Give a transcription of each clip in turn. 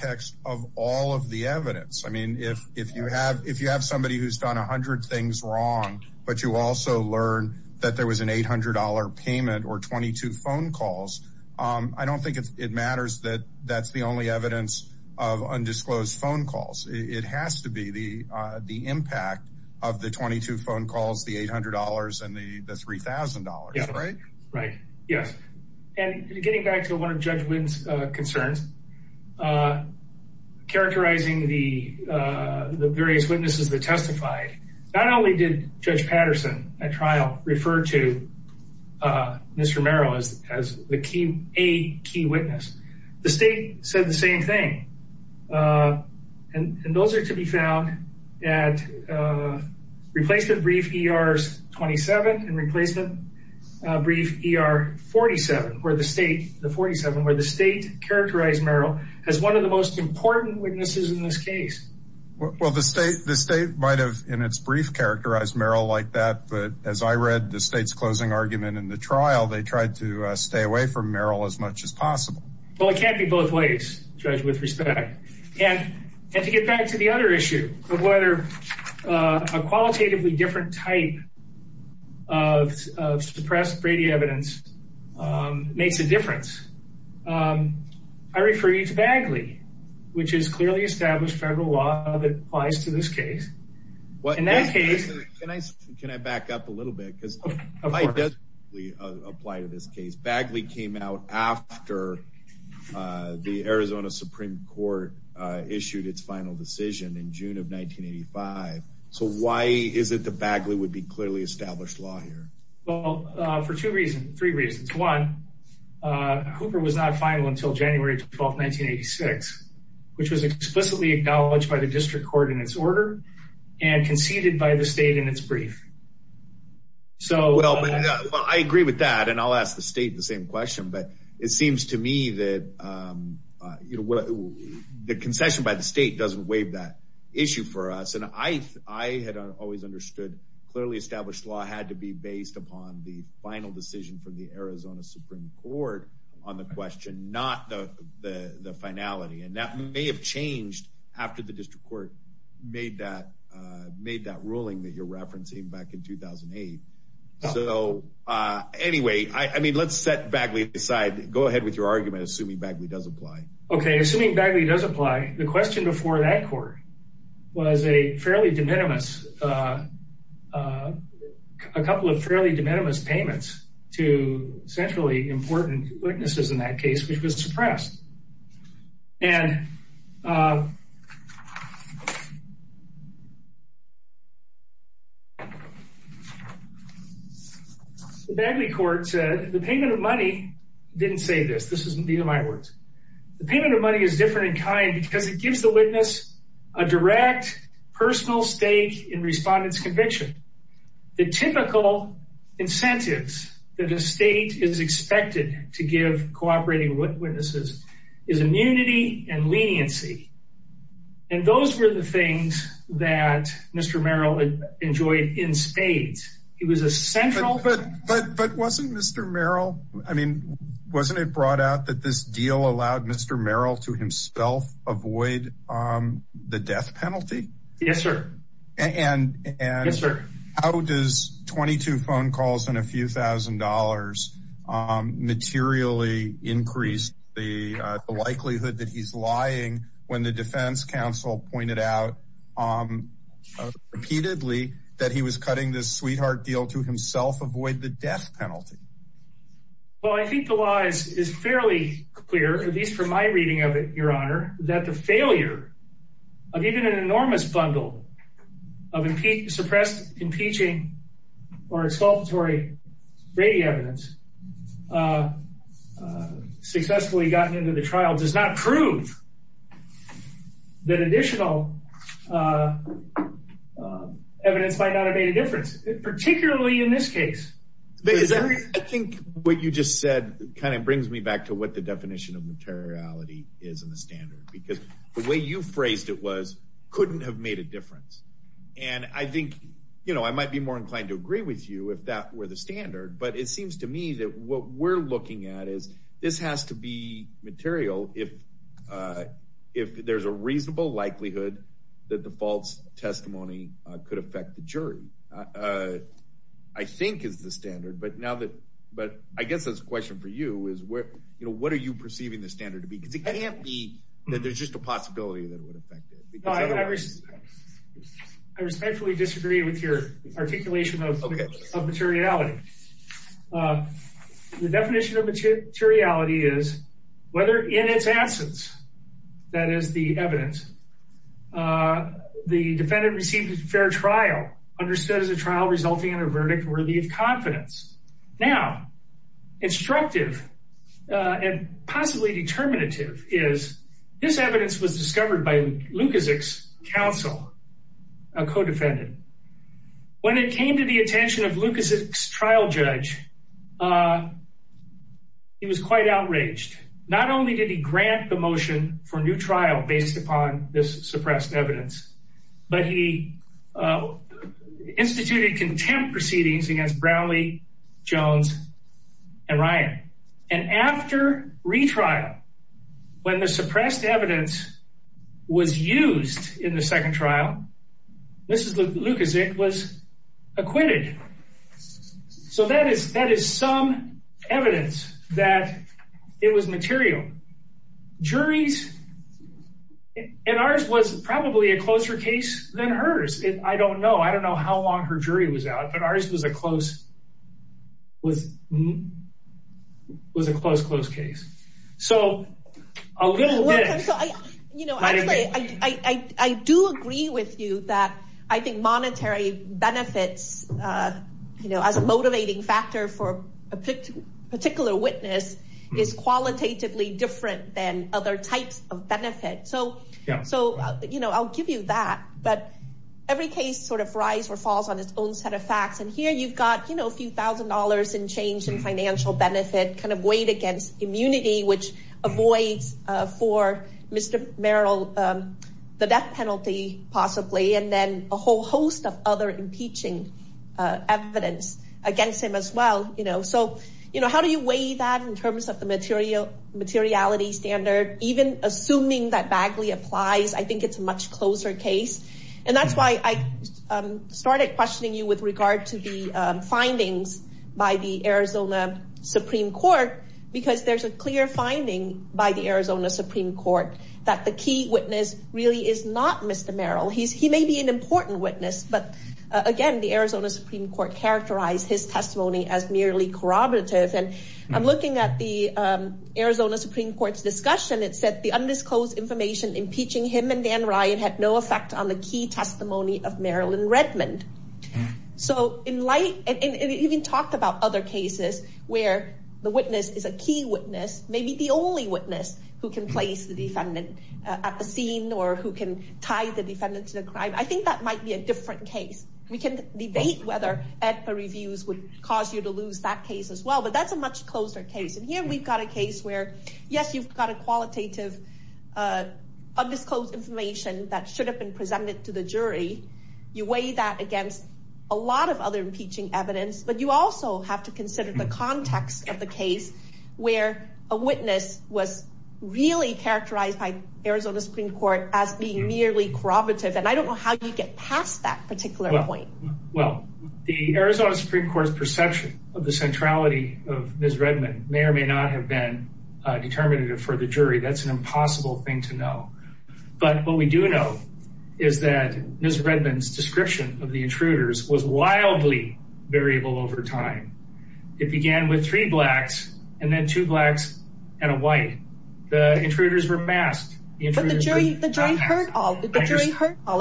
v. going to affect is the context of all of the evidence. I mean, if you have somebody who's done 100 things wrong, but you also learned that there was an $800 payment or 22 phone calls, I don't think it matters that that's the only evidence of undisclosed phone calls. It has to be the impact of the 22 phone calls, the $800 and the $3,000. Right? Yes. And getting back to one of Judge Winn's concerns, uh, characterizing the, uh, the various witnesses that testified, not only did Judge Patterson at trial refer to, uh, Mr. Merrill as, as the key, a key witness, the state said the same thing. Uh, and, and those are to be found at, uh, replacement brief ERs 27 and replacement, uh, brief ER 47 where the state, the 47 where the state characterized Merrill as one of the most important witnesses in this case. Well, the state, the state might have in its brief characterized Merrill like that, but as I read the state's closing argument in the trial, they tried to stay away from Merrill as much as possible. Well, it can't be both ways judge with respect and to get back to the other issue of whether, uh, a qualitatively different type of, of suppressed Brady evidence, um, makes a I refer you to Bagley, which is clearly established federal law that applies to this case. What in that case, can I, can I back up a little bit? Cause we apply to this case Bagley came out after, uh, the Arizona Supreme court, uh, issued its final decision in June of 1985. So why is it the Bagley would be clearly established law here? Well, uh, for two reasons, three reasons. One, uh, Cooper was not final until January 12th, 1986, which was explicitly acknowledged by the district court in its order and conceded by the state in its brief. So, well, I agree with that and I'll ask the state the same question, but it seems to me that, um, uh, you know, what the concession by the state doesn't waive that issue for us. And I, I had always understood clearly established law had to be based upon the final decision from the Arizona Supreme court on the question, not the, the, the finality. And that may have changed after the district court made that, uh, made that ruling that you're referencing back in 2008. So, uh, anyway, I, I mean, let's set Bagley aside, go ahead with your argument, assuming Bagley does apply. Okay. Assuming Bagley does apply the question before that court was a fairly de minimis, uh, uh, a couple of fairly de minimis payments to centrally important witnesses in that case, which was suppressed and, uh, Bagley court said the payment of money didn't say this. This isn't the, in my words, the payment of money is different in kind because it gives the witness a direct personal stake in respondents conviction. The typical incentives that a state is expected to give cooperating witnesses is immunity and leniency. And those were the things that Mr. Merrill enjoyed in spades. He was a central, but, but, but wasn't Mr. Merrill, I mean, wasn't it brought out that this deal allowed Mr. Merrill to himself avoid, um, the death penalty. Yes, sir. And, and, and how does 22 phone calls and a few thousand dollars, um, materially increased the likelihood that he's lying when the defense council pointed out, um, repeatedly that he was cutting this sweetheart deal to himself avoid the death penalty. Well, I think the lies is fairly clear, at least from my reading of it, your honor, that the failure of even an enormous bundle of impede suppressed impeaching or expulsory Brady evidence, uh, uh, successfully gotten into the trial does not prove that additional, uh, uh, evidence might not have made a difference, particularly in this case. I think what you just said kind of brings me back to what the definition of materiality is in the standard, because the way you phrased it was couldn't have made a difference. And I think, you know, I might be more inclined to agree with you if that were the standard, but it seems to me that what we're looking at is this has to be material. If, uh, if there's a reasonable likelihood that the false testimony could affect the jury, uh, I think is the standard, but now that, but I guess that's a question for you is where, you know, what are you perceiving the standard to be? Cause it can't be that there's just a possibility that it would affect it. I respectfully disagree with your articulation of, of materiality. Uh, the definition of materiality is whether in its absence, that is the evidence, uh, the defendant received a fair trial understood as a trial resulting in a verdict worthy of confidence. Now, instructive, uh, and possibly determinative is this evidence was discovered by counsel, a codefendant. When it came to the attention of Lucas trial judge, uh, he was quite outraged. Not only did he grant the motion for new trial based upon this suppressed evidence, but he, uh, instituted contempt proceedings against Brownlee Jones and Ryan. And after retrial, when the second trial, this is Lucas, it was acquitted. So that is, that is some evidence that it was material juries and ours was probably a closer case than hers. It, I don't know. I don't know how long her jury was out, but ours was a close, was, was a close, close case. So a little bit, you know, I do agree with you that I think monetary benefits, uh, you know, as a motivating factor for a particular witness is qualitatively different than other types of benefit. So, so, you know, I'll give you that, but every case sort of rise or falls on its own set of facts. And here you've got, you know, a few thousand dollars in change and financial benefit kind of paid against immunity, which avoids for Mr. Merrill, um, the death penalty possibly, and then a whole host of other impeaching evidence against him as well. You know, so, you know, how do you weigh that in terms of the material, materiality standard, even assuming that Bagley applies, I think it's a much closer case. And that's why I started questioning you with regard to the findings by the Arizona Supreme Court, because there's a clear finding by the Arizona Supreme Court that the key witness really is not Mr. Merrill. He's, he may be an important witness, but again, the Arizona Supreme Court characterized his testimony as merely corroborative. And I'm looking at the, um, Arizona Supreme Court's discussion. It said the undisclosed information impeaching him and Dan Ryan had no effect on the key testimony of Marilyn Redmond. So in light, and it even talked about other cases where the witness is a key witness, maybe the only witness who can place the defendant at the scene or who can tie the defendant to the crime, I think that might be a different case. We can debate whether AEDPA reviews would cause you to lose that case as well, but that's a much closer case. And here we've got a case where yes, you've got a qualitative, uh, undisclosed information that should have been presented to the jury. You weigh that against a lot of other impeaching evidence, but you also have to consider the context of the case where a witness was really characterized by Arizona Supreme Court as being merely corroborative. And I don't know how you get past that particular point. Well, the Arizona Supreme Court's perception of the centrality of Ms. Redmond may or may not have been, uh, determinative for the jury. That's an impossible thing to know. But what we do know is that Ms. Redmond's description of the intruders was wildly variable over time. It began with three blacks and then two blacks and a white. The intruders were masked. But the jury heard all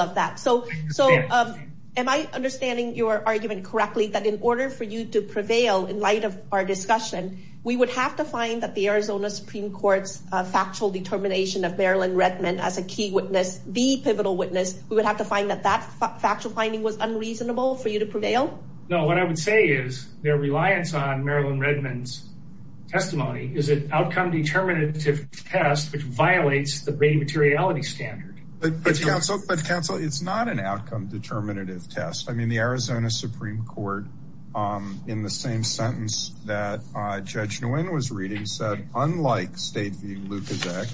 of that. So, so, um, am I understanding your argument correctly that in order for you to prevail in light of our discussion, we would have to find that the Arizona Supreme Court's, uh, factual determination of Marilyn Redmond as a key witness, the pivotal witness, we would have to find that that factual finding was unreasonable for you to prevail? No, what I would say is their reliance on Marilyn Redmond's testimony is an outcome determinative test, which violates the main materiality standard. But, but counsel, but counsel, it's not an outcome determinative test. I mean, the Arizona Supreme Court, um, in the same sentence that, uh, Judge Nguyen was reading said, unlike State v. Lukaszek,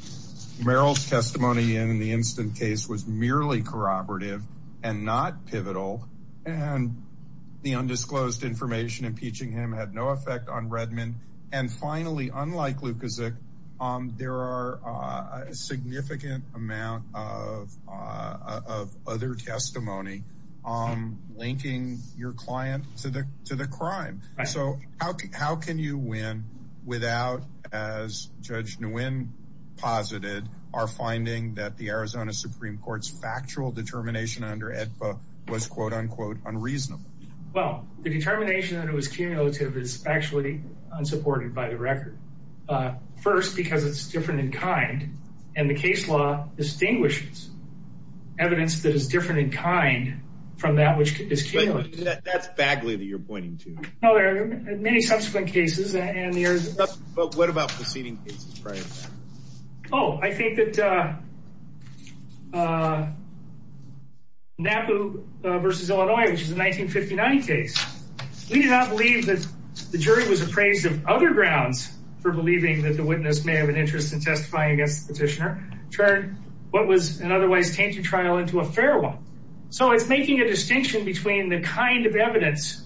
Meryl's testimony in the instant case was merely corroborative and not pivotal. And the undisclosed information impeaching him had no effect on Redmond. And finally, unlike Lukaszek, um, there are a significant amount of, uh, of other testimony, um, linking your client to the, to the crime. So how, how can you win without as Judge Nguyen posited our finding that the Arizona Supreme Court's factual determination under AEDPA was quote unquote unreasonable? Well, the determination that it was cumulative is actually unsupported by the record. Uh, first because it's different in kind and the case law distinguishes evidence that is different in kind from that which is cumulative. That's Bagley that you're pointing to. No, there are many subsequent cases and there's... But what about proceeding cases prior to that? Oh, I think that, uh, uh, NAPU versus Illinois, which is a 1959 case, we did not believe that the jury was appraised of other grounds for believing that the witness may have an interest in testifying against the petitioner turned what was an otherwise tainted trial into a fair one. So it's making a distinction between the kind of evidence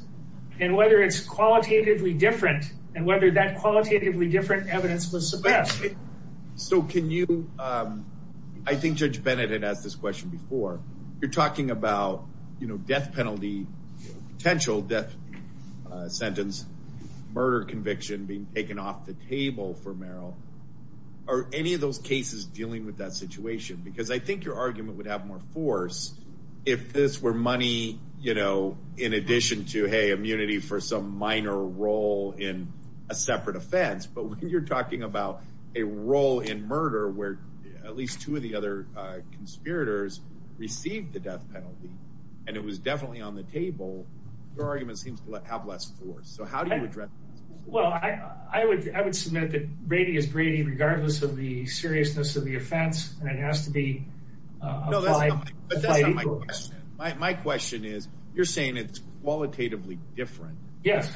and whether it's qualitatively different and whether that qualitatively different evidence was suppressed. So can you, um, I think Judge Bennett had asked this question before, you're talking about, you know, death penalty, potential death sentence, murder conviction being taken off the table for Merrill. Are any of those cases dealing with that situation? Because I think your argument would have more force if this were money, you know, in addition to, hey, immunity for some minor role in a separate offense. But when you're talking about a role in murder, where at least two of the other conspirators received the death penalty and it was definitely on the table, your argument seems to have less force. So how do you address? Well, I would, I would submit that Brady is Brady regardless of the seriousness of the offense. And it has to be applied. My question is you're saying it's qualitatively different. Yes.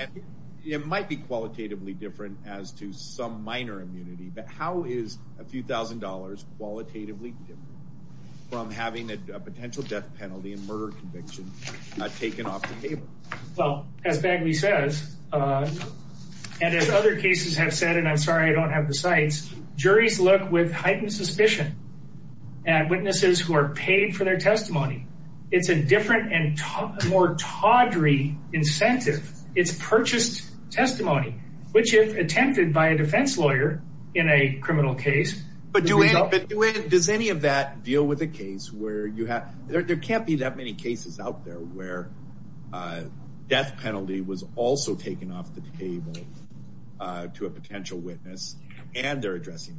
It might be qualitatively different as to some minor immunity. But how is a few thousand dollars qualitatively from having a potential death penalty and murder conviction taken off the table? Well, as Bagley says, and as other cases have said, and I'm sorry I don't have the sites, juries look with heightened suspicion and witnesses who are paid for their testimony. It's a different and more tawdry incentive. It's purchased testimony, which is attempted by a defense lawyer in a criminal case. But does any of that deal with a case where you have there can't be that many cases out there where death penalty was also taken off the table to a potential witness and they're addressing.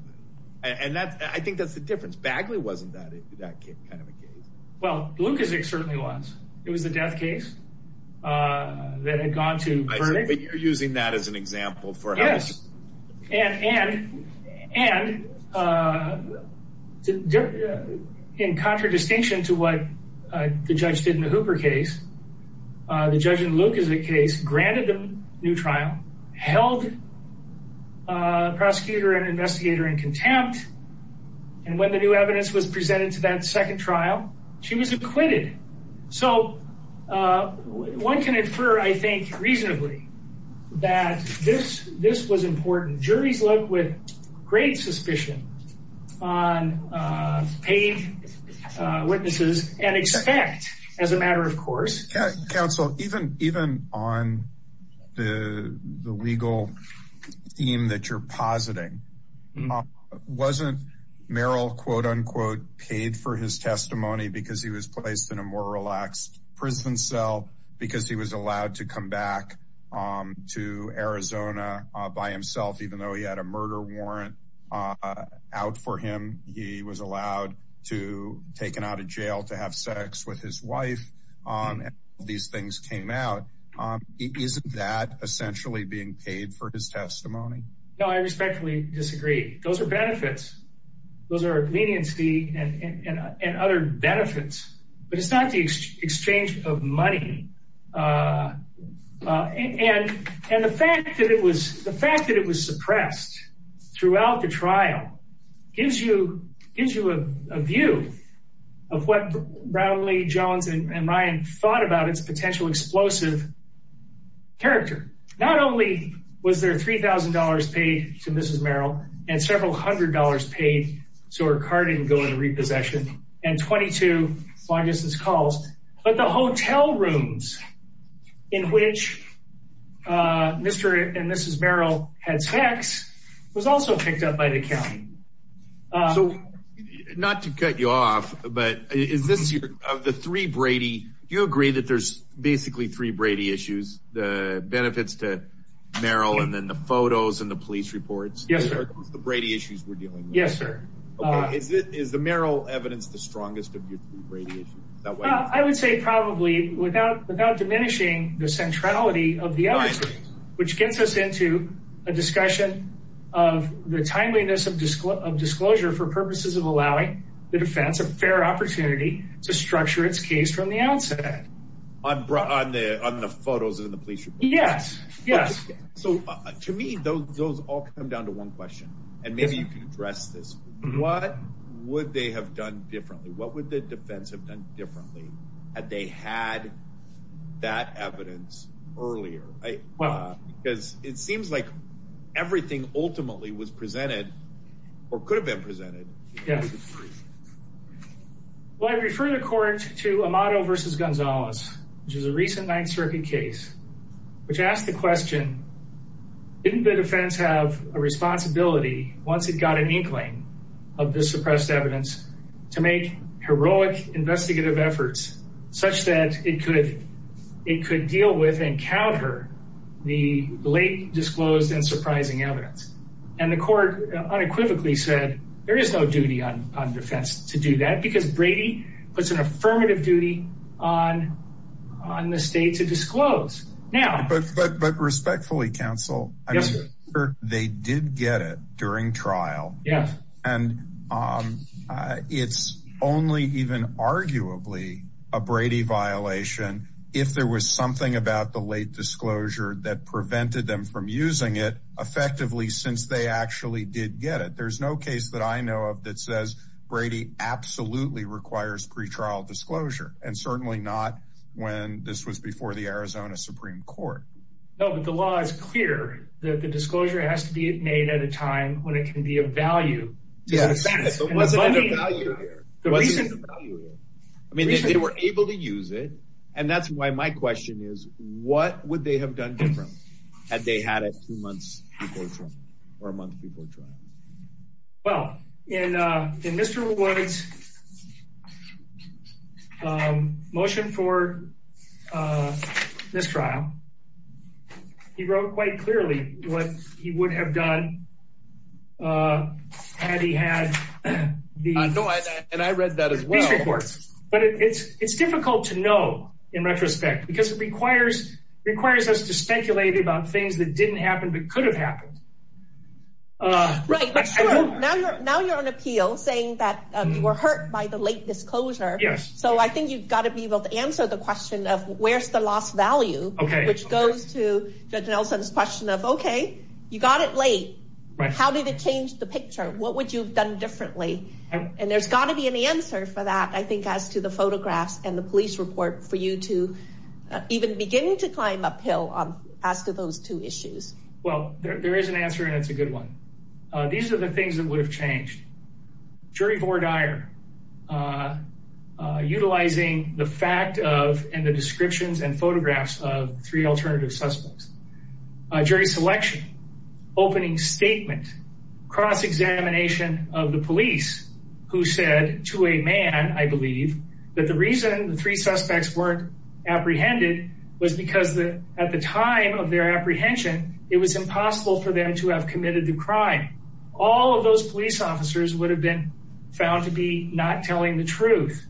And that's I think that's the difference. Bagley wasn't that that kind of a case. Well, Lukacic certainly was. It was the death case that had gone to. But you're using that as an example for us. And and and in contradistinction to what the judge did in the Hooper case, the judge in Luke is a case granted the new trial held. Prosecutor and investigator in contempt. And when the new evidence was presented to that second trial, she was acquitted. So one can infer, I think reasonably that this this was important. Juries look with great suspicion on paid witnesses and expect as a matter of course. Counsel, even even on the legal theme that you're positing wasn't Merrill, quote, unquote, paid for his testimony because he was placed in a more relaxed prison cell because he was allowed to come back to Arizona by himself, even though he had a murder warrant out for him. He was allowed to taken out of jail to have sex with his wife. These things came out. Isn't that essentially being paid for his testimony? No, I respectfully disagree. Those are benefits. Those are leniency and other benefits. But it's not the exchange of money. And and the fact that it was the fact that it was suppressed throughout the trial gives you gives you a view of what Brownlee, Jones and Ryan thought about its potential explosive. Character, not only was there three thousand dollars paid to Mrs. Merrill and several hundred dollars paid so her car didn't go into repossession and twenty two long distance calls, but the hotel rooms in which Mr. And Mrs. Merrill had sex was also picked up by the county. So not to cut you off, but is this of the three Brady? Do you agree that there's basically three Brady issues, the benefits to Merrill and then the photos and the police reports? Yes, sir. The Brady issues we're dealing. Yes, sir. Is it is the Merrill evidence the strongest of your three Brady issues? I would say probably without without diminishing the neutrality of the evidence, which gets us into a discussion of the timeliness of disclosure for purposes of allowing the defense a fair opportunity to structure its case from the outset. I'm on the on the photos and the police. Yes. Yes. So to me, those those all come down to one question. And maybe you can address this. What would they have done differently? What would the defense have done differently? Had they had that evidence earlier? Well, because it seems like everything ultimately was presented or could have been presented. Yes. Well, I refer the court to a model versus Gonzalez, which is a recent Ninth Circuit case, which asked the question. Didn't the defense have a responsibility once it got an inkling of the suppressed evidence to make heroic investigative efforts such that it could it could deal with and counter the late disclosed and surprising evidence? And the court unequivocally said there is no duty on defense to do that because Brady puts an affirmative duty on on the state to disclose. Now, but respectfully, counsel, I'm sure they did get it during trial. Yeah. And it's only even arguably a Brady violation if there was something about the late disclosure that prevented them from using it effectively since they actually did get it. There's no case that I know of that says Brady absolutely requires pretrial disclosure. And certainly not when this was before the Arizona Supreme Court. No, but the law is clear that the disclosure has to be made at a time when it can be of value. Yes. The reason I mean, they were able to use it. And that's why my question is, what would they have done different had they had it two months before or a month before trial? Well, in in Mr. Woods motion for this trial, he wrote quite clearly what he would have done had he had the and I read that but it's it's difficult to know in retrospect because it requires requires us to speculate about things that didn't happen but could have happened. Right. Now you're on appeal saying that you were hurt by the late disclosure. Yes. So I think you've got to be able to answer the question of where's the lost value? OK. Which goes to Judge Nelson's question of, OK, you got it late. How did it change the picture? What would you have done differently? And there's got to be an answer for that, I think, as to the photographs and the police report for you to even begin to climb uphill on as to those two issues. Well, there is an answer and it's a good one. These are the things that would have changed. Jury vore dire utilizing the fact of and the descriptions and photographs of three alternative suspects, jury selection, opening statement, cross-examination of the police who said to a man, I believe, that the reason the three suspects weren't apprehended was because at the time of their apprehension, it was impossible for them to have committed the crime. All of those police officers would have been found to be not telling the truth.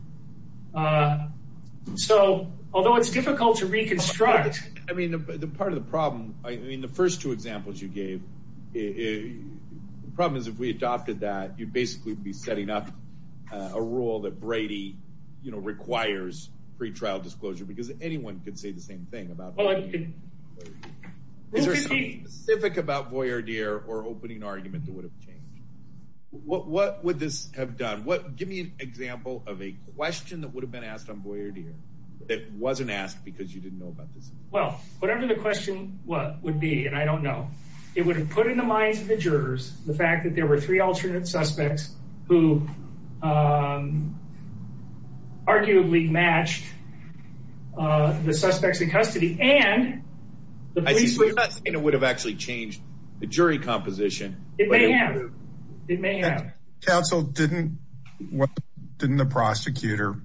So although it's difficult to reconstruct. I mean, the part of the problem, I mean, the first two examples you gave, it the problem is if we adopted that, you'd basically be setting up a rule that Brady, you know, requires pretrial disclosure because anyone could say the same thing about. Well, is there something specific about voyeur dire or opening argument that would have changed? What would this have done? What give me an example of a question that would have been asked on voyeur dire that wasn't asked because you didn't know about this? Well, whatever the question would be, and I don't know, it would have put in the minds of the jurors the fact that there were three alternate suspects who arguably matched the suspects in custody and the police would have actually changed the jury composition. It may have. It may have. Counsel, didn't what didn't the prosecutor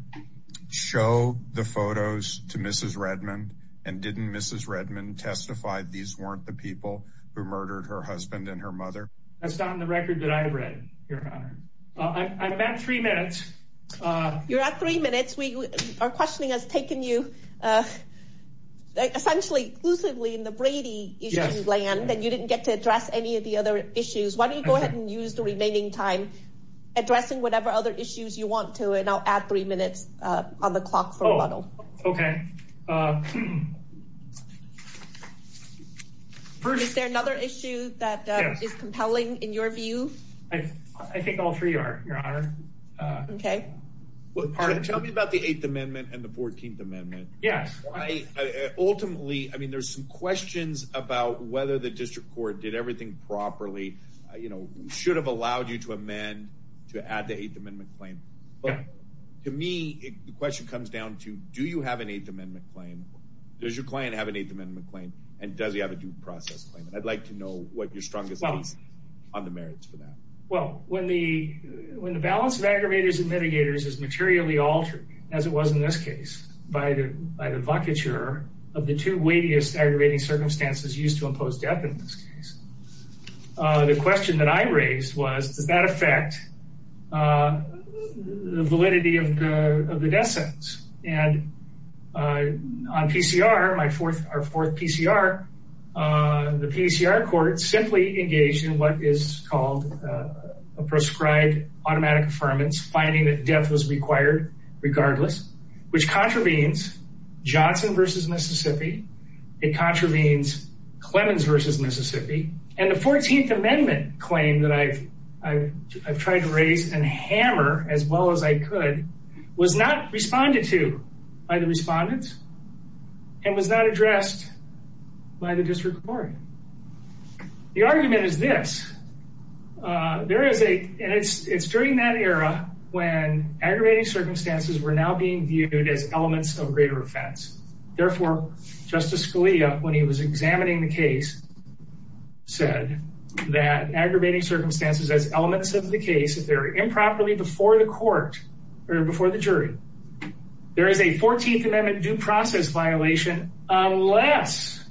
show the photos to Mrs. Redmond and didn't Mrs. Redmond testify these weren't the husband and her mother? That's not in the record that I read, Your Honor. I'm at three minutes. You're at three minutes. We are questioning has taken you essentially exclusively in the Brady land and you didn't get to address any of the other issues. Why don't you go ahead and use the remaining time addressing whatever other issues you want to and I'll add three minutes on the clock for a little. OK. First, is there another issue that is compelling in your view? I think all three are, Your Honor. OK, well, tell me about the Eighth Amendment and the Fourteenth Amendment. Yes. Ultimately, I mean, there's some questions about whether the district court did everything properly, you know, should have allowed you to amend to add the Eighth Amendment claim. But to me, the question comes down to, do you have an Eighth Amendment claim? Yes. Does your client have an Eighth Amendment claim and does he have a due process claim? And I'd like to know what your strongest on the merits for that. Well, when the when the balance of aggravators and mitigators is materially altered, as it was in this case, by the by the vacature of the two weightiest aggravating circumstances used to impose death in this case. The question that I raised was, does that affect the validity of the death sentence? And on PCR, my fourth or fourth PCR, the PCR court simply engaged in what is called a proscribed automatic affirmance, finding that death was required regardless, which contravenes Johnson versus Mississippi. It contravenes Clemens versus Mississippi. And the Fourteenth Amendment claim that I've I've I've tried to raise and hammer as well as I could was not responded to by the respondents. And was not addressed by the district court. The argument is this. There is a it's it's during that era when aggravating circumstances were now being viewed as elements of greater offense. Therefore, Justice Scalia, when he was examining the case, said that aggravating circumstances as elements of the case, if they're improperly before the court or before the jury, there is a Fourteenth Amendment due process violation unless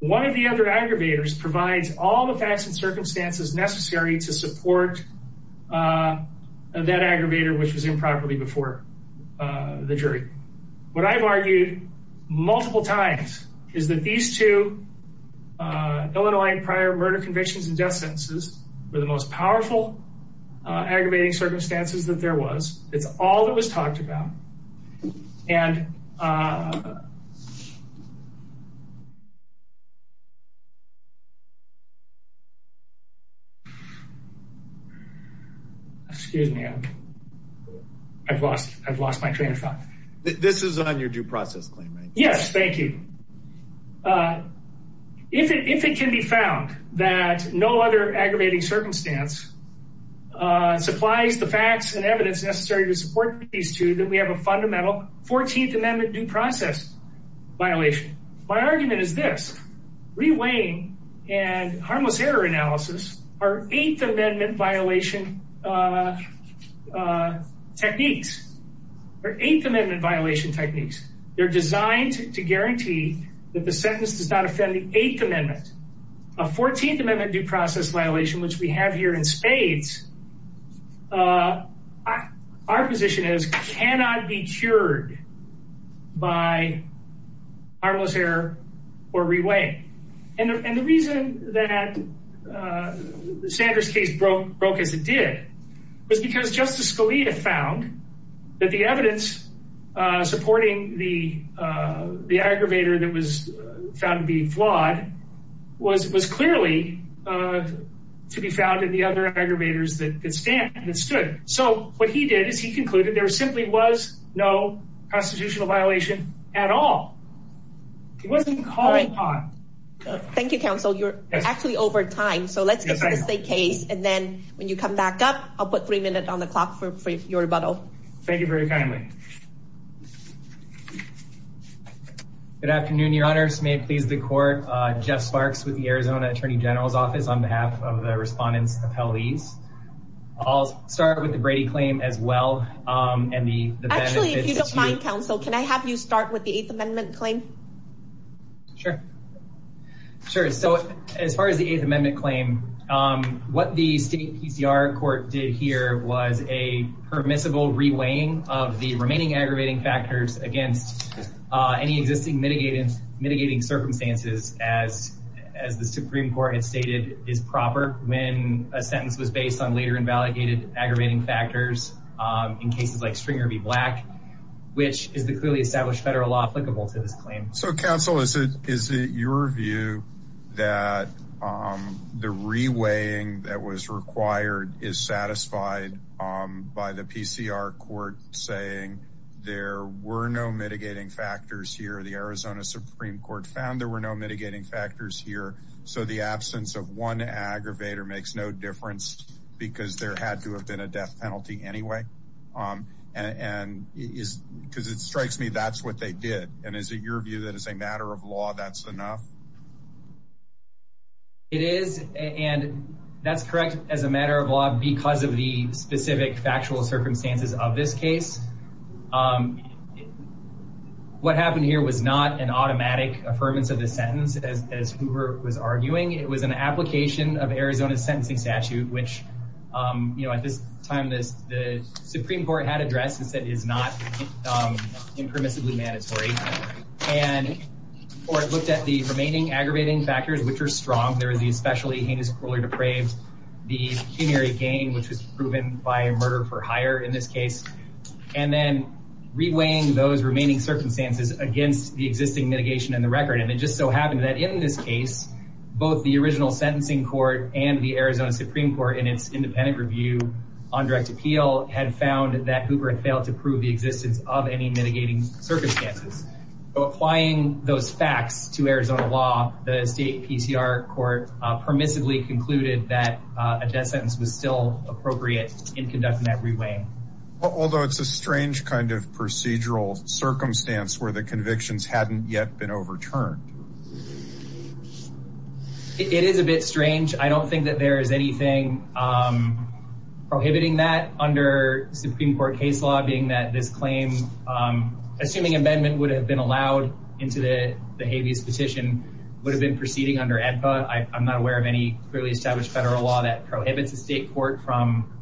one of the other aggravators provides all the facts and circumstances necessary to support that aggravator, which was improperly before the jury. What I've argued multiple times is that these two Illinois prior murder convictions and death sentences were the most powerful aggravating circumstances that there was. It's all that was talked about. And. Excuse me. I've lost I've lost my train of thought. This is on your due process claim. Yes. Thank you. If it if it can be found that no other aggravating circumstance supplies the facts and evidence necessary to support these two, then we have a fundamental Fourteenth Amendment due process violation. My argument is this reweighing and harmless error analysis are Eighth Amendment violation techniques or Eighth Amendment violation techniques. They're designed to guarantee that the sentence does not offend A Fourteenth Amendment due process violation, which we have here in spades. Our position is cannot be cured by harmless error or reweigh. And the reason that Sanders case broke broke as it did was because Justice Scalia found that the evidence supporting the the aggravator that was found to be flawed was was clearly to be found in the other aggravators that could stand and stood. So what he did is he concluded there simply was no constitutional violation at all. It wasn't called upon. Thank you, counsel. You're actually over time. So let's get to the case. And then when you come back up, I'll put three minutes on the clock for your rebuttal. Thank you very kindly. Good afternoon, your honors. May it please the court. Jeff Sparks with the Arizona Attorney General's Office on behalf of the respondents appellees. I'll start with the Brady claim as well. And the actually, if you don't mind, counsel, can I have you start with the Eighth Amendment claim? Sure, sure. So as far as the Eighth Amendment claim, what the state court did here was a permissible reweighing of the remaining aggravating factors against any existing mitigating mitigating circumstances, as as the Supreme Court had stated is proper. When a sentence was based on later invalidated aggravating factors in cases like Stringer v. Black, which is the clearly established federal law applicable to this claim. So, counsel, is it is it your view that the reweighing that was required is satisfied by the PCR court saying there were no mitigating factors here, the Arizona Supreme Court found there were no mitigating factors here. So the absence of one aggravator makes no difference because there had to have been a death penalty anyway. And is because it strikes me that's what they did. And is it your view that as a matter of law, that's enough? It is, and that's correct as a matter of law, because of the specific factual circumstances of this case. What happened here was not an automatic affirmance of the sentence, as Hoover was arguing. It was an application of Arizona's sentencing statute, which, you know, at this time, the Supreme Court had addressed and said it is not impermissibly mandatory. And the court looked at the remaining aggravating factors, which are strong. There is the especially heinous cruelly depraved, the pecuniary gain, which was proven by a murder for hire in this case, and then reweighing those remaining circumstances against the existing mitigation and the record. And it just so happened that in this case, both the original sentencing court and the Arizona Supreme Court in its independent review on direct appeal had found that Hoover had failed to prove the existence of any mitigating circumstances. But applying those facts to Arizona law, the state PCR court permissively concluded that a death sentence was still appropriate in conducting that reweighing. Although it's a strange kind of procedural circumstance where the convictions hadn't yet been overturned. It is a bit strange. I don't think that there is anything prohibiting that under Supreme Court case law, being that this claim, assuming amendment would have been allowed into the habeas petition, would have been proceeding under AEDPA. I'm not aware of any clearly established federal law that prohibits a state court from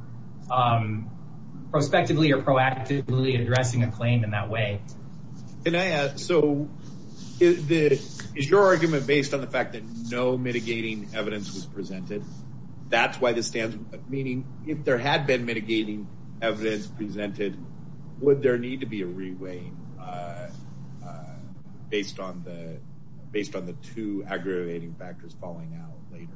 prospectively or proactively addressing a claim in that way. Can I ask, so is your argument based on the fact that no mitigating evidence was presented? That's why this stands, meaning if there had been mitigating evidence presented, would there need to be a reweighing based on the two aggravating factors falling out later?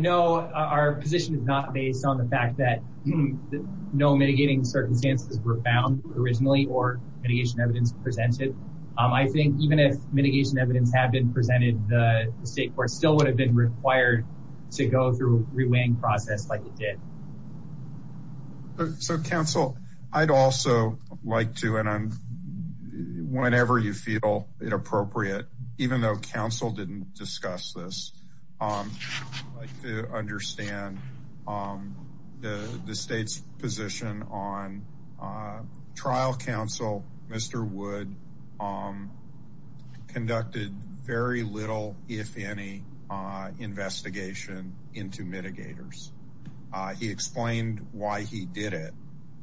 No, our position is not based on the fact that no mitigating circumstances were found originally or mitigation evidence presented. I think even if mitigation evidence had been presented, the state court still would have been required to go through a reweighing process like it did. So counsel, I'd also like to, and whenever you feel inappropriate, even though counsel didn't discuss this, I'd like to understand the state's position on trial counsel, Mr. Wood, conducted very little, if any, investigation into mitigators. He explained why he did it,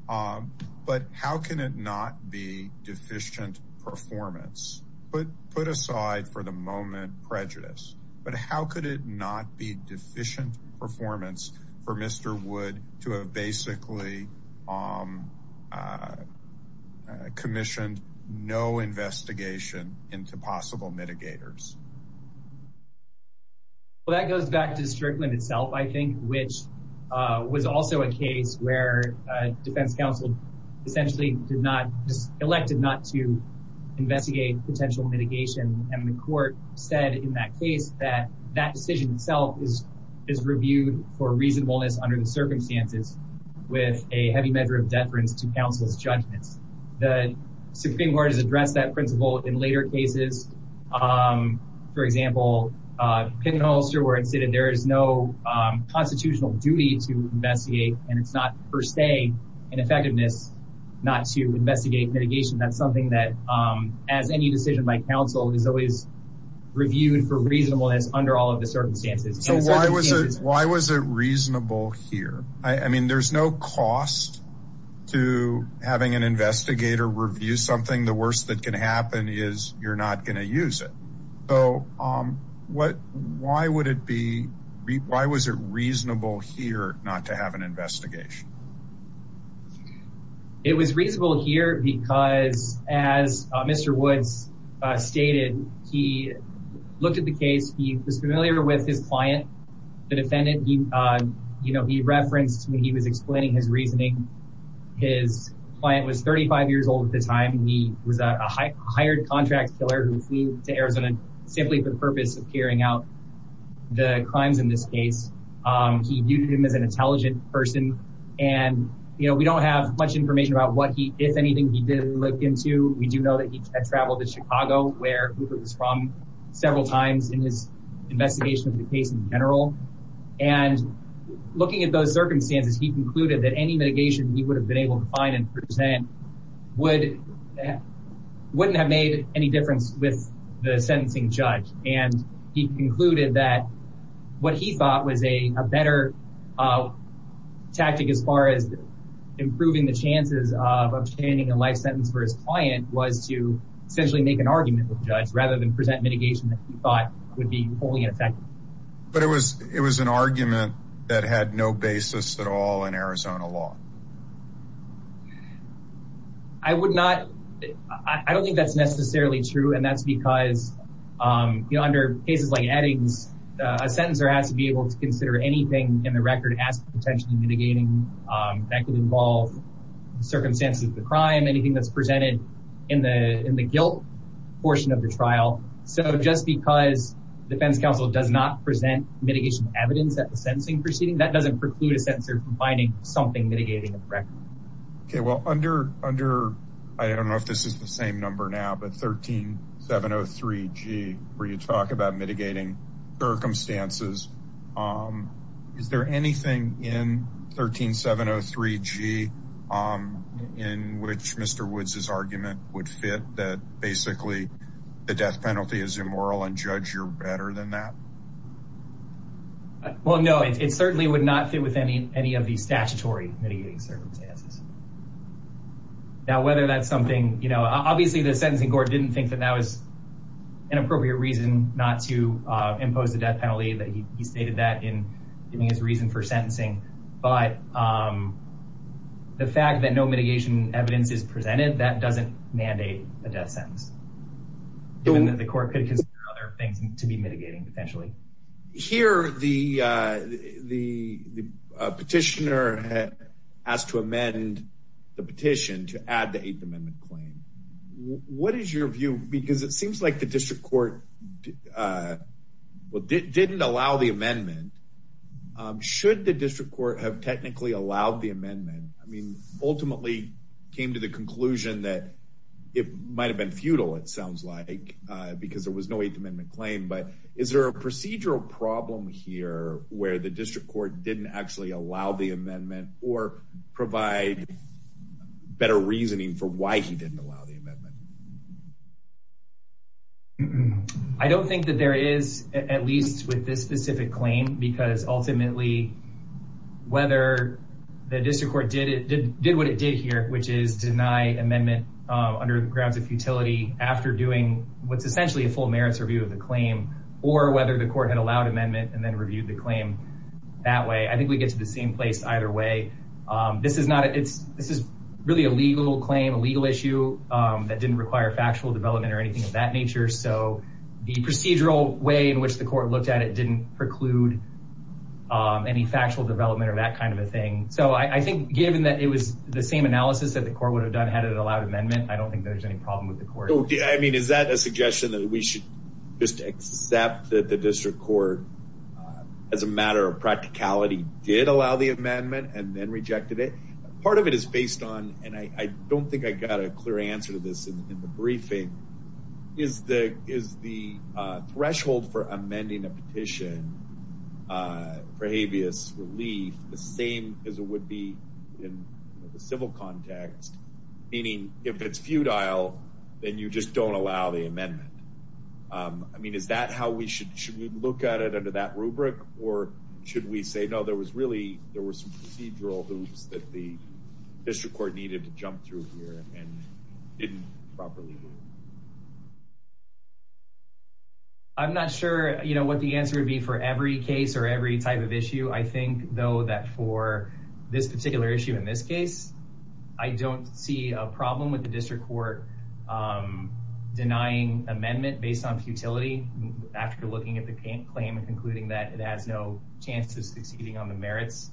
but how can it not be deficient performance? Put aside for the moment prejudice, but how could it not be deficient performance for Mr. Wood to have basically a commissioned no investigation into possible mitigators? Well, that goes back to Strickland itself, I think, which was also a case where a defense counsel essentially did not just elected not to investigate potential mitigation. And the court said in that case that that decision itself is reviewed for reasonableness under the circumstances with a heavy measure of deference to counsel's judgments. The Supreme Court has addressed that principle in later cases. For example, Pinholster where it's in, there is no constitutional duty to investigate and it's not per se an effectiveness not to investigate mitigation. That's something that as any decision by counsel is always reviewed for reasonableness under all of the circumstances. So why was it reasonable here? I mean, there's no cost to having an investigator review something. The worst that can happen is you're not gonna use it. So why would it be, why was it reasonable here not to have an investigation? It was reasonable here because as Mr. Woods stated, he looked at the case, he was familiar with his client, the defendant, he referenced when he was explaining his reasoning. His client was 35 years old at the time. He was a hired contract killer who flew to Arizona simply for the purpose of carrying out the crimes in this case. He viewed him as an intelligent person. And we don't have much information about what he, if anything, he did look into. We do know that he had traveled to Chicago where Cooper was from several times in his investigation of the case in general. And looking at those circumstances, he concluded that any mitigation he would have been able to find and present wouldn't have made any difference with the sentencing judge. And he concluded that what he thought was a better tactic as far as improving the chances of obtaining a life sentence for his client was to essentially make an argument with the judge rather than present mitigation that he thought would be wholly ineffective. But it was an argument that had no basis at all in Arizona law. I would not, I don't think that's necessarily true. And that's because under cases like Eddings, a sentencer has to be able to consider anything in the record as potentially mitigating that could involve the circumstances of the crime, anything that's presented in the guilt portion of the trial. So just because defense counsel does not present mitigation evidence at the sentencing proceeding, that doesn't preclude a sensor from finding something mitigating the record. Okay, well, under, I don't know if this is the same number now, but 13703G, where you talk about mitigating circumstances, is there anything in 13703G in which Mr. Woods's argument would fit that basically the death penalty is immoral and judge you're better than that? Well, no, it certainly would not fit with any of these statutory mitigating circumstances. Now, whether that's something, obviously the sentencing court didn't think that that was an appropriate reason not to impose the death penalty, that he stated that in giving his reason for sentencing. But the fact that no mitigation evidence is presented, that doesn't mandate a death sentence, given that the court could consider other things to be mitigating potentially. Here, the petitioner asked to amend the petition to add the Eighth Amendment claim. What is your view? Because it seems like the district court Should the district court have technically allowed the amendment? I mean, ultimately came to the conclusion that it might've been futile, it sounds like, because there was no Eighth Amendment claim, but is there a procedural problem here where the district court didn't actually allow the amendment or provide better reasoning for why he didn't allow the amendment? I don't think that there is, at least with this specific claim, because ultimately, whether the district court did what it did here, which is deny amendment under grounds of futility after doing what's essentially a full merits review of the claim, or whether the court had allowed amendment and then reviewed the claim that way. I think we get to the same place either way. This is really a legal claim, a legal issue that didn't require factual development or anything of that nature. So the procedural way in which the court looked at it didn't preclude any factual development or that kind of a thing. So I think given that it was the same analysis that the court would have done had it allowed amendment, I don't think there's any problem with the court. I mean, is that a suggestion that we should just accept that the district court, as a matter of practicality, did allow the amendment and then rejected it? Part of it is based on, and I don't think I got a clear answer to this in the briefing, is the threshold for amending a petition for habeas relief the same as it would be in the civil context, meaning if it's futile, then you just don't allow the amendment. I mean, is that how we should, should we look at it under that rubric? Or should we say, no, there was really, there were some procedural hoops that the district court needed to jump through here and didn't properly do? I'm not sure, you know, what the answer would be for every case or every type of issue. I think though that for this particular issue, in this case, I don't see a problem with the district court denying amendment based on futility after looking at the claim and concluding that it has no chance of succeeding on the merits.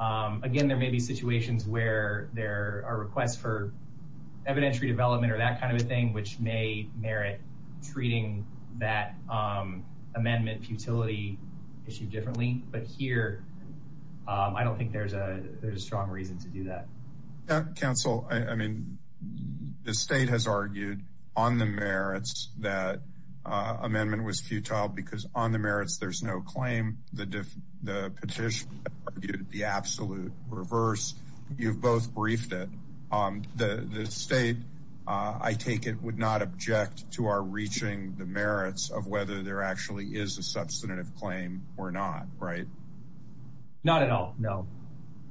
Again, there may be situations where there are requests for evidentiary development or that kind of a thing, which may merit treating that amendment futility issue differently. But here, I don't think there's a, there's a strong reason to do that. Council, I mean, the state has argued on the merits that amendment was futile because on the merits, there's no claim, the petition argued the absolute reverse. You've both briefed it. The state, I take it, would not object to our reaching the merits of whether there actually is a substantive claim or not, right? Not at all, no.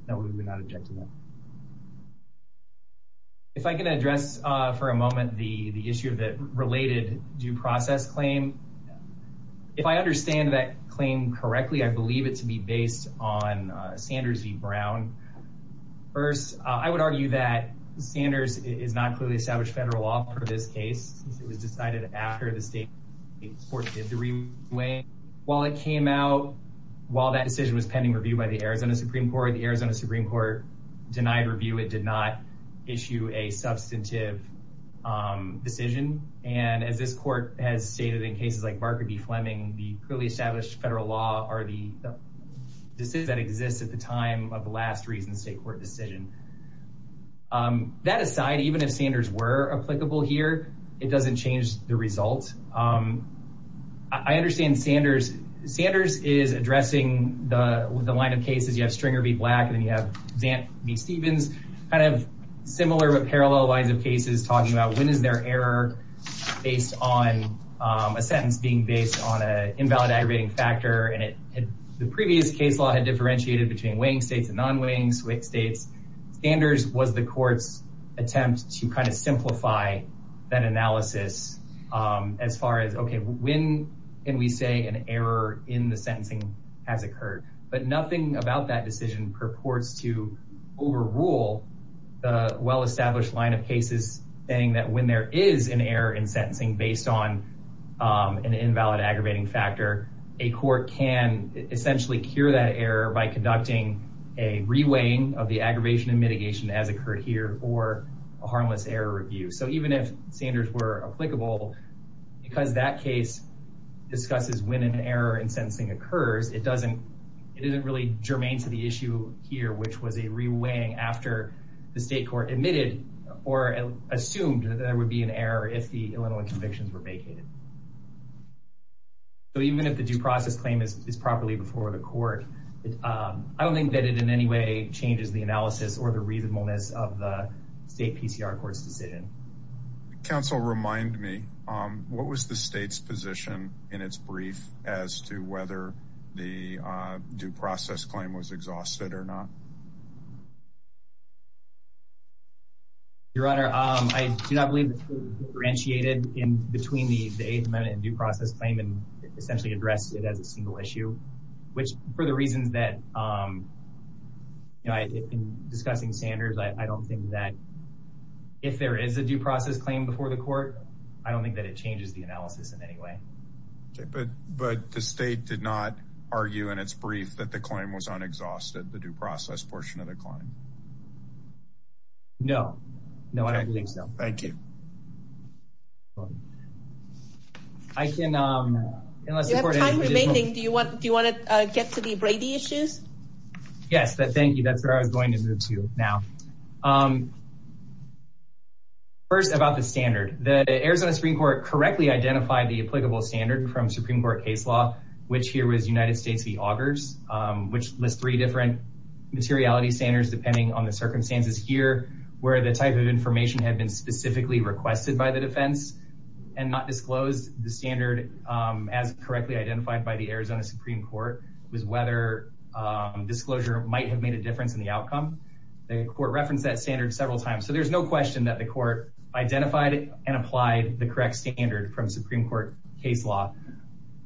No, we would not object to that. If I can address for a moment the issue of the related due process claim. If I understand that claim correctly, I believe it to be based on Sanders v. Brown. First, I would argue that Sanders is not clearly established federal law for this case. It was decided after the state court did the review. While it came out, while that decision was pending review by the Arizona Supreme Court, the Arizona Supreme Court denied review. It did not issue a substantive decision. And as this court has stated in cases like Barker v. Fleming, the clearly established federal law are the decisions that exist at the time of the last recent state court decision. That aside, even if Sanders were applicable here, it doesn't change the results. I understand Sanders is addressing the line of cases. You have Stringer v. Black, and then you have Zant v. Stevens, kind of similar but parallel lines of cases talking about when is there error based on a sentence being based on an invalid aggravating factor, and the previous case law had differentiated between weighing states and non-weighing states. Sanders was the court's attempt to kind of simplify that analysis as far as, okay, when can we say an error in the sentencing has occurred? But nothing about that decision purports to overrule the well-established line of cases saying that when there is an error in sentencing based on an invalid aggravating factor, a court can essentially cure that error by conducting a re-weighing of the aggravation and mitigation as occurred here, or a harmless error review. So even if Sanders were applicable, because that case discusses when an error in sentencing occurs, it doesn't, it isn't really germane to the issue here, which was a re-weighing after the state court admitted or assumed that there would be an error if the Illinois convictions were vacated. So even if the due process claim is properly before the court, I don't think that it in any way changes the analysis or the reasonableness of the state PCR court's decision. Council, remind me, what was the state's position in its brief as to whether the due process claim was exhausted or not? Your Honor, I do not believe it's differentiated in between the eighth amendment and due process claim and essentially addressed it as a single issue, which for the reasons that, you know, in discussing Sanders, I don't think that if there is a due process claim before the court, I don't think that it changes the analysis in any way. Okay, but the state did not argue in its brief that the claim was unexhausted, the due process portion of the claim? No, no, I don't think so. Thank you. Thank you, Your Honor. I can, unless the court has any additional- You have time remaining. Do you want to get to the Brady issues? Yes, thank you. That's where I was going to move to now. First, about the standard. The Arizona Supreme Court correctly identified the applicable standard from Supreme Court case law, which here was United States v. Augers, which lists three different materiality standards depending on the circumstances here, where the type of information had been specifically requested by the defense and not disclosed. The standard, as correctly identified by the Arizona Supreme Court, was whether disclosure might have made a difference in the outcome. The court referenced that standard several times. So there's no question that the court identified and applied the correct standard from Supreme Court case law.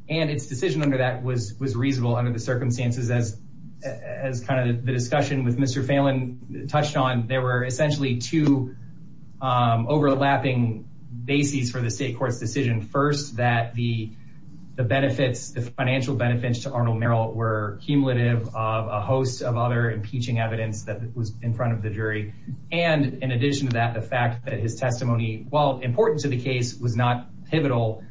And its decision under that was reasonable under the circumstances as kind of the discussion with Mr. Phelan touched on. There were essentially two overlapping bases for the state court's decision. First, that the financial benefits to Arnold Merrill were cumulative of a host of other impeaching evidence that was in front of the jury. And in addition to that, the fact that his testimony, while important to the case, was not pivotal.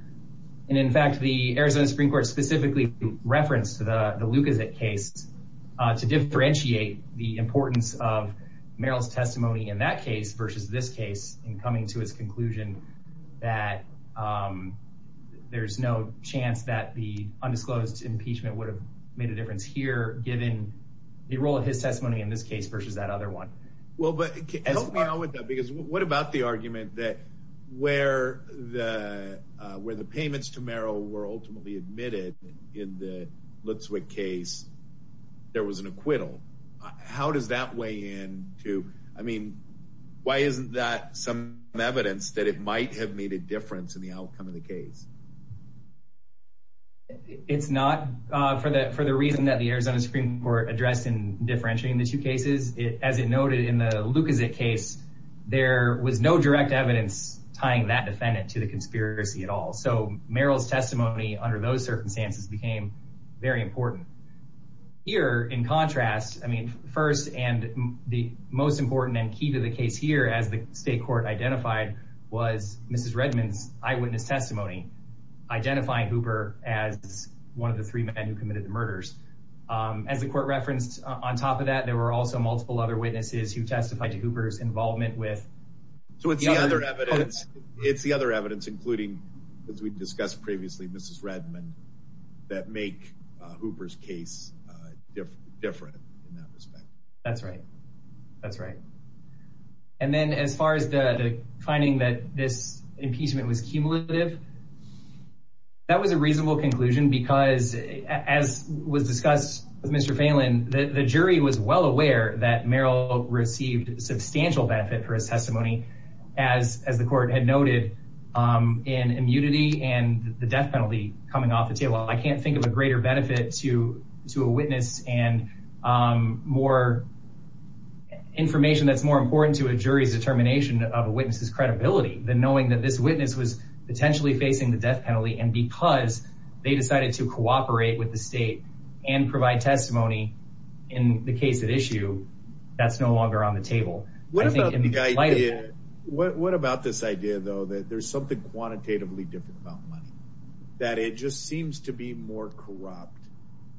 And in fact, the Arizona Supreme Court specifically referenced the Lucazette case to differentiate the importance of Merrill's testimony in that case versus this case, in coming to its conclusion that there's no chance that the undisclosed impeachment would have made a difference here, given the role of his testimony in this case versus that other one. Well, but help me out with that, because what about the argument that where the payments to Merrill were ultimately admitted in the Lutzwick case, there was an acquittal. How does that weigh in to, I mean, why isn't that some evidence that it might have made a difference in the outcome of the case? It's not, for the reason that the Arizona Supreme Court addressed in differentiating the two cases, as it noted in the Lucazette case, there was no direct evidence tying that defendant to the conspiracy at all. So Merrill's testimony under those circumstances became very important. Here in contrast, I mean, first, and the most important and key to the case here as the state court identified was Mrs. Redmond's eyewitness testimony, identifying Hooper as one of the three men who committed the murders. As the court referenced on top of that, there were also multiple other witnesses who testified to Hooper's involvement with- So it's the other evidence, it's the other evidence, including, as we discussed previously, Mrs. Redmond, that make Hooper's case different in that respect. That's right. That's right. And then as far as the finding that this impeachment was cumulative, that was a reasonable conclusion because as was discussed with Mr. Phelan, the jury was well aware that Merrill received a substantial benefit for his testimony as the court had noted in immunity and the death penalty coming off the table. I can't think of a greater benefit to a witness and more information that's more important to a jury's determination of a witness's credibility than knowing that this witness was potentially facing the death penalty and because they decided to cooperate with the state and provide testimony in the case at issue, that's no longer on the table. What about the idea, what about this idea though, that there's something quantitatively different about money? That it just seems to be more corrupt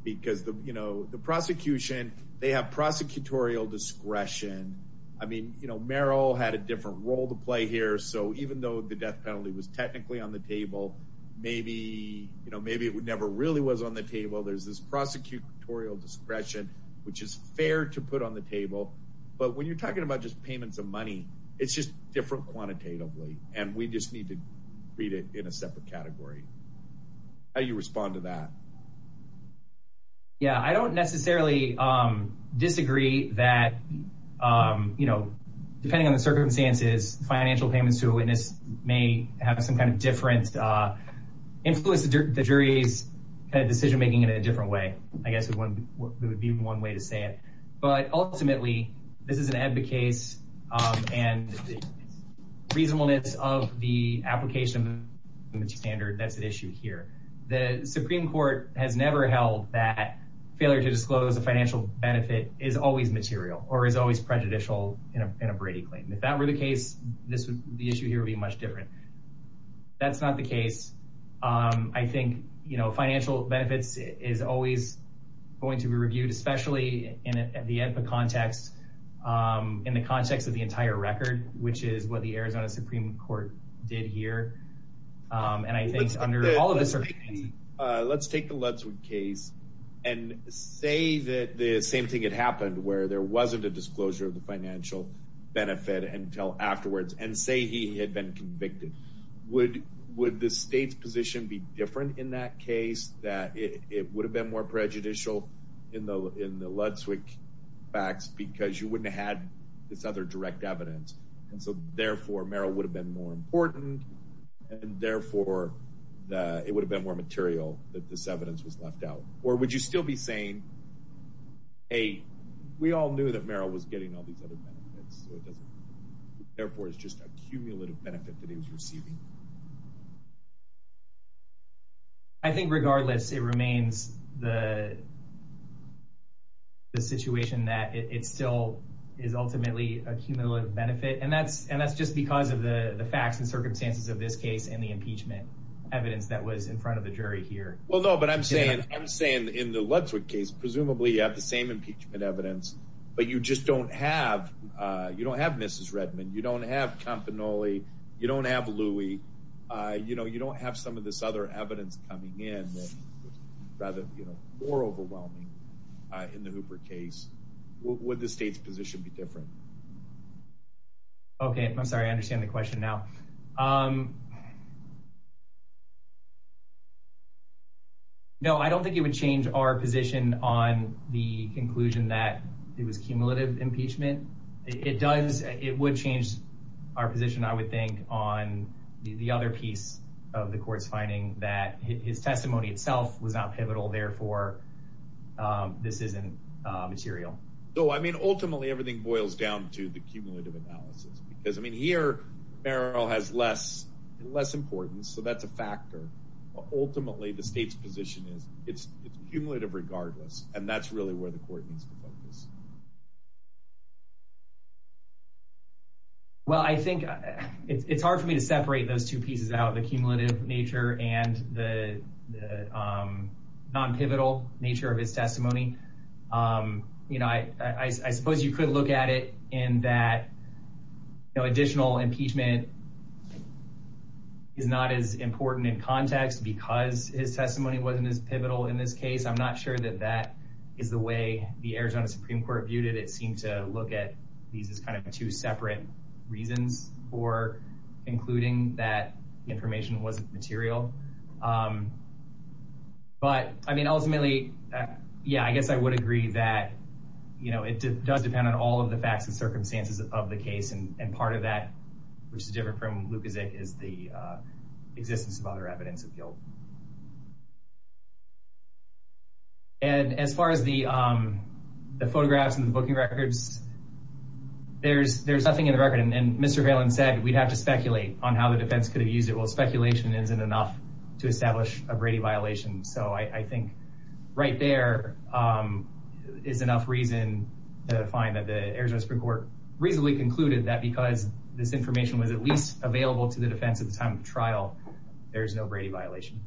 because the prosecution, they have prosecutorial discretion. I mean, Merrill had a different role to play here so even though the death penalty was technically on the table, maybe it never really was on the table, there's this prosecutorial discretion which is fair to put on the table but when you're talking about just payments of money, it's just different quantitatively and we just need to read it in a separate category. How do you respond to that? Yeah, I don't necessarily disagree that, depending on the circumstances, financial payments to a witness may have some kind of difference, influence the jury's decision making in a different way. I guess it would be one way to say it but ultimately, this is an EBBA case and reasonableness of the application standard, that's an issue here. The Supreme Court has never held that failure to disclose a financial benefit is always material or is always prejudicial in a Brady claim. If that were the case, the issue here would be much different. That's not the case. I think financial benefits is always going to be reviewed, especially in the EBBA context, in the context of the entire record which is what the Arizona Supreme Court did here and I think under all of the circumstances. Let's take the Lutzwood case and say that the same thing had happened where there wasn't a disclosure of the financial benefit until afterwards and say he had been convicted. Would the state's position be different in that case that it would have been more prejudicial in the Lutzwood facts because you wouldn't have had this other direct evidence and so therefore, Merrill would have been more important and therefore, it would have been more material that this evidence was left out or would you still be saying, hey, we all knew that Merrill was getting all these other benefits so it doesn't matter. Therefore, it's just a cumulative benefit that he was receiving. I think regardless, it remains the situation that it still is ultimately a cumulative benefit and that's just because of the facts and circumstances of this case and the impeachment evidence that was in front of the jury here. Well, no, but I'm saying in the Lutzwood case, presumably, you have the same impeachment evidence but you just don't have, you don't have Mrs. Redmond, you don't have Campanoli, you don't have Louie, you don't have some of this other evidence coming in that was rather more overwhelming in the Hooper case. Would the state's position be different? Okay, I'm sorry, I understand the question now. No, I don't think it would change our position on the conclusion that it was cumulative impeachment. It does, it would change our position, I would think, on the other piece of the court's finding that his testimony itself was not pivotal, therefore, this isn't material. So, I mean, ultimately, everything boils down to the cumulative analysis because, I mean, here, Merrill has less importance so that's a factor. But ultimately, the state's position is it's cumulative regardless and that's really where the court needs to focus. Well, I think it's hard for me to separate those two pieces out, the cumulative nature and the non-pivotal nature of his testimony. You know, I suppose you could look at it in that additional impeachment is not as important in context because his testimony wasn't as pivotal in this case. I'm not sure that that is the way the Arizona Supreme Court viewed it. It seemed to look at these as kind of two separate reasons for concluding that information wasn't material. But, I mean, ultimately, yeah, I guess I would agree that it does depend on all of the facts and circumstances of the case and part of that, which is different from Lukaszek, is the existence of other evidence of guilt. And as far as the photographs and the booking records, there's nothing in the record. And Mr. Valen said, we'd have to speculate on how the defense could have used it. Well, speculation isn't enough to establish a Brady violation. So I think right there is enough reason to find that the Arizona Supreme Court reasonably concluded that because this information was at least available to the defense at the time of the trial, there's no Brady violation.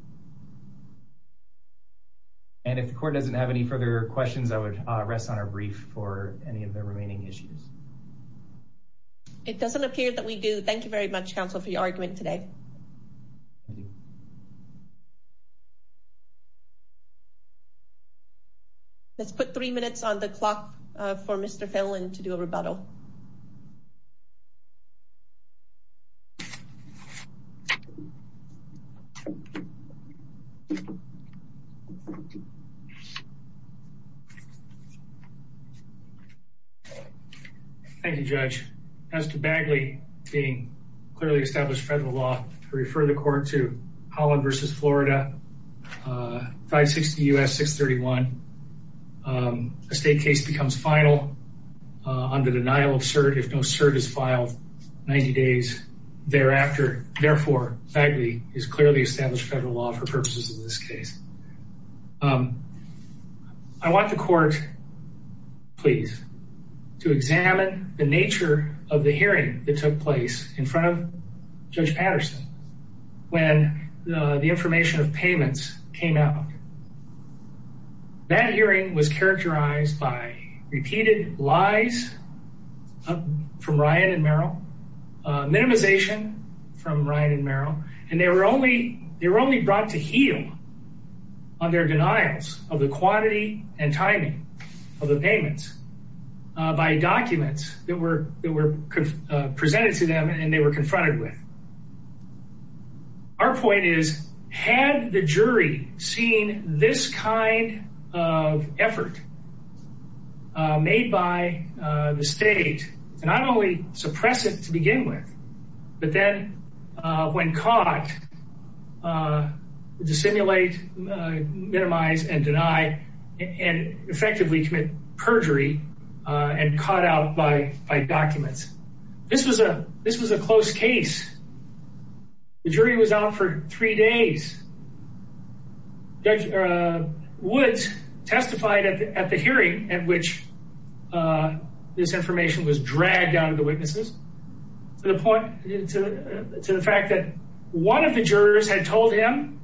And if the court doesn't have any further questions, I would rest on a brief for any of the remaining issues. It doesn't appear that we do. Thank you very much, counsel, for your argument today. Let's put three minutes on the clock for Mr. Valen to do a rebuttal. Mr. Valen. Thank you, Judge. As to Bagley being clearly established federal law, I refer the court to Holland v. Florida, 560 U.S. 631. A state case becomes final under denial of cert if no cert is filed 90 days thereafter. Therefore, Bagley is clearly established federal law for purposes of this case. I want the court, please, to examine the nature of the hearing that took place in front of Judge Patterson when the information of payments came out. That hearing was characterized by repeated lies from Ryan and Merrill, minimization from Ryan and Merrill, and they were only brought to heel on their denials of the quantity and timing of the payments by documents that were presented to them and they were confronted with. Our point is, had the jury seen this kind of effort made by the state to not only suppress it to begin with, but then when caught, to simulate, minimize, and deny, and effectively commit perjury and caught out by documents. This was a close case. The jury was out for three days. Judge Woods testified at the hearing at which this information was dragged out of the witnesses to the fact that one of the jurors had told him,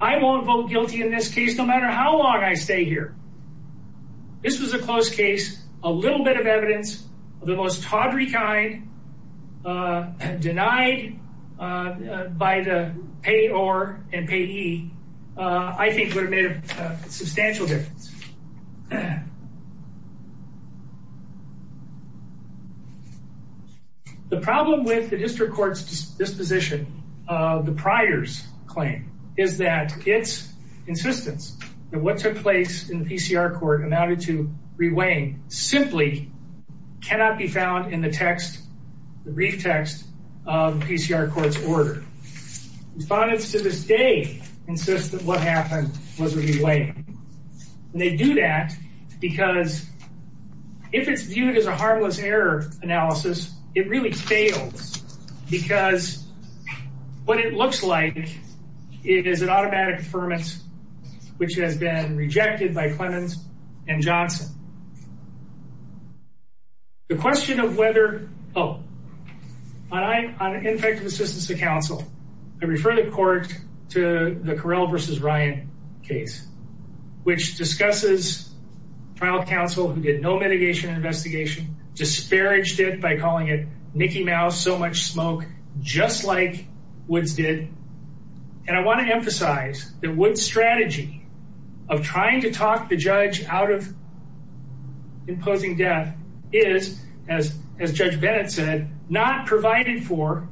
I won't vote guilty in this case no matter how long I stay here. This was a close case, a little bit of evidence of the most tawdry kind denied by the payor and payee, I think would have made a substantial difference. The problem with the district court's disposition of the Pryor's claim is that its insistence that what took place in the PCR court amounted to reweighing simply cannot be found in the text, the brief text of the PCR court's order. Respondents to this day insist that what happened was a reweighing. And they do that because if it's viewed as a harmless error analysis, it really fails because what it looks like is an automatic affirmance which has been rejected by Clemens and Johnson. The question of whether, oh, on ineffective assistance to counsel, I refer the court to the Carell versus Ryan case, which discusses trial counsel who did no mitigation investigation, disparaged it by calling it Mickey Mouse, so much smoke, just like Woods did. And I want to emphasize that Woods' strategy of trying to talk the judge out of imposing death is, as Judge Bennett said, not provided for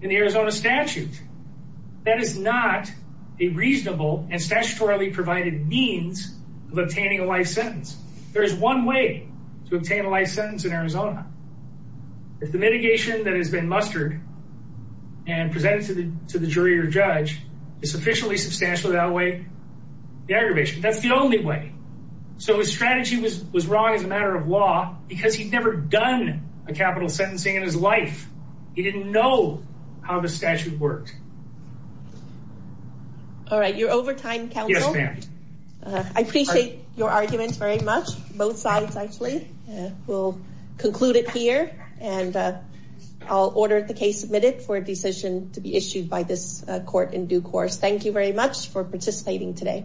in the Arizona statute. That is not a reasonable and statutorily provided means of obtaining a life sentence. There is one way to obtain a life sentence in Arizona. If the mitigation that has been mustered and presented to the jury or judge is sufficiently substantial to outweigh the aggravation, that's the only way. So his strategy was wrong as a matter of law because he'd never done a capital sentencing in his life. He didn't know how the statute worked. All right, you're over time, counsel? Yes, ma'am. I appreciate your argument very much, both sides, actually. We'll conclude it here, and I'll order the case submitted for a decision to be issued by this court in due course. Thank you very much for participating today. Thank you.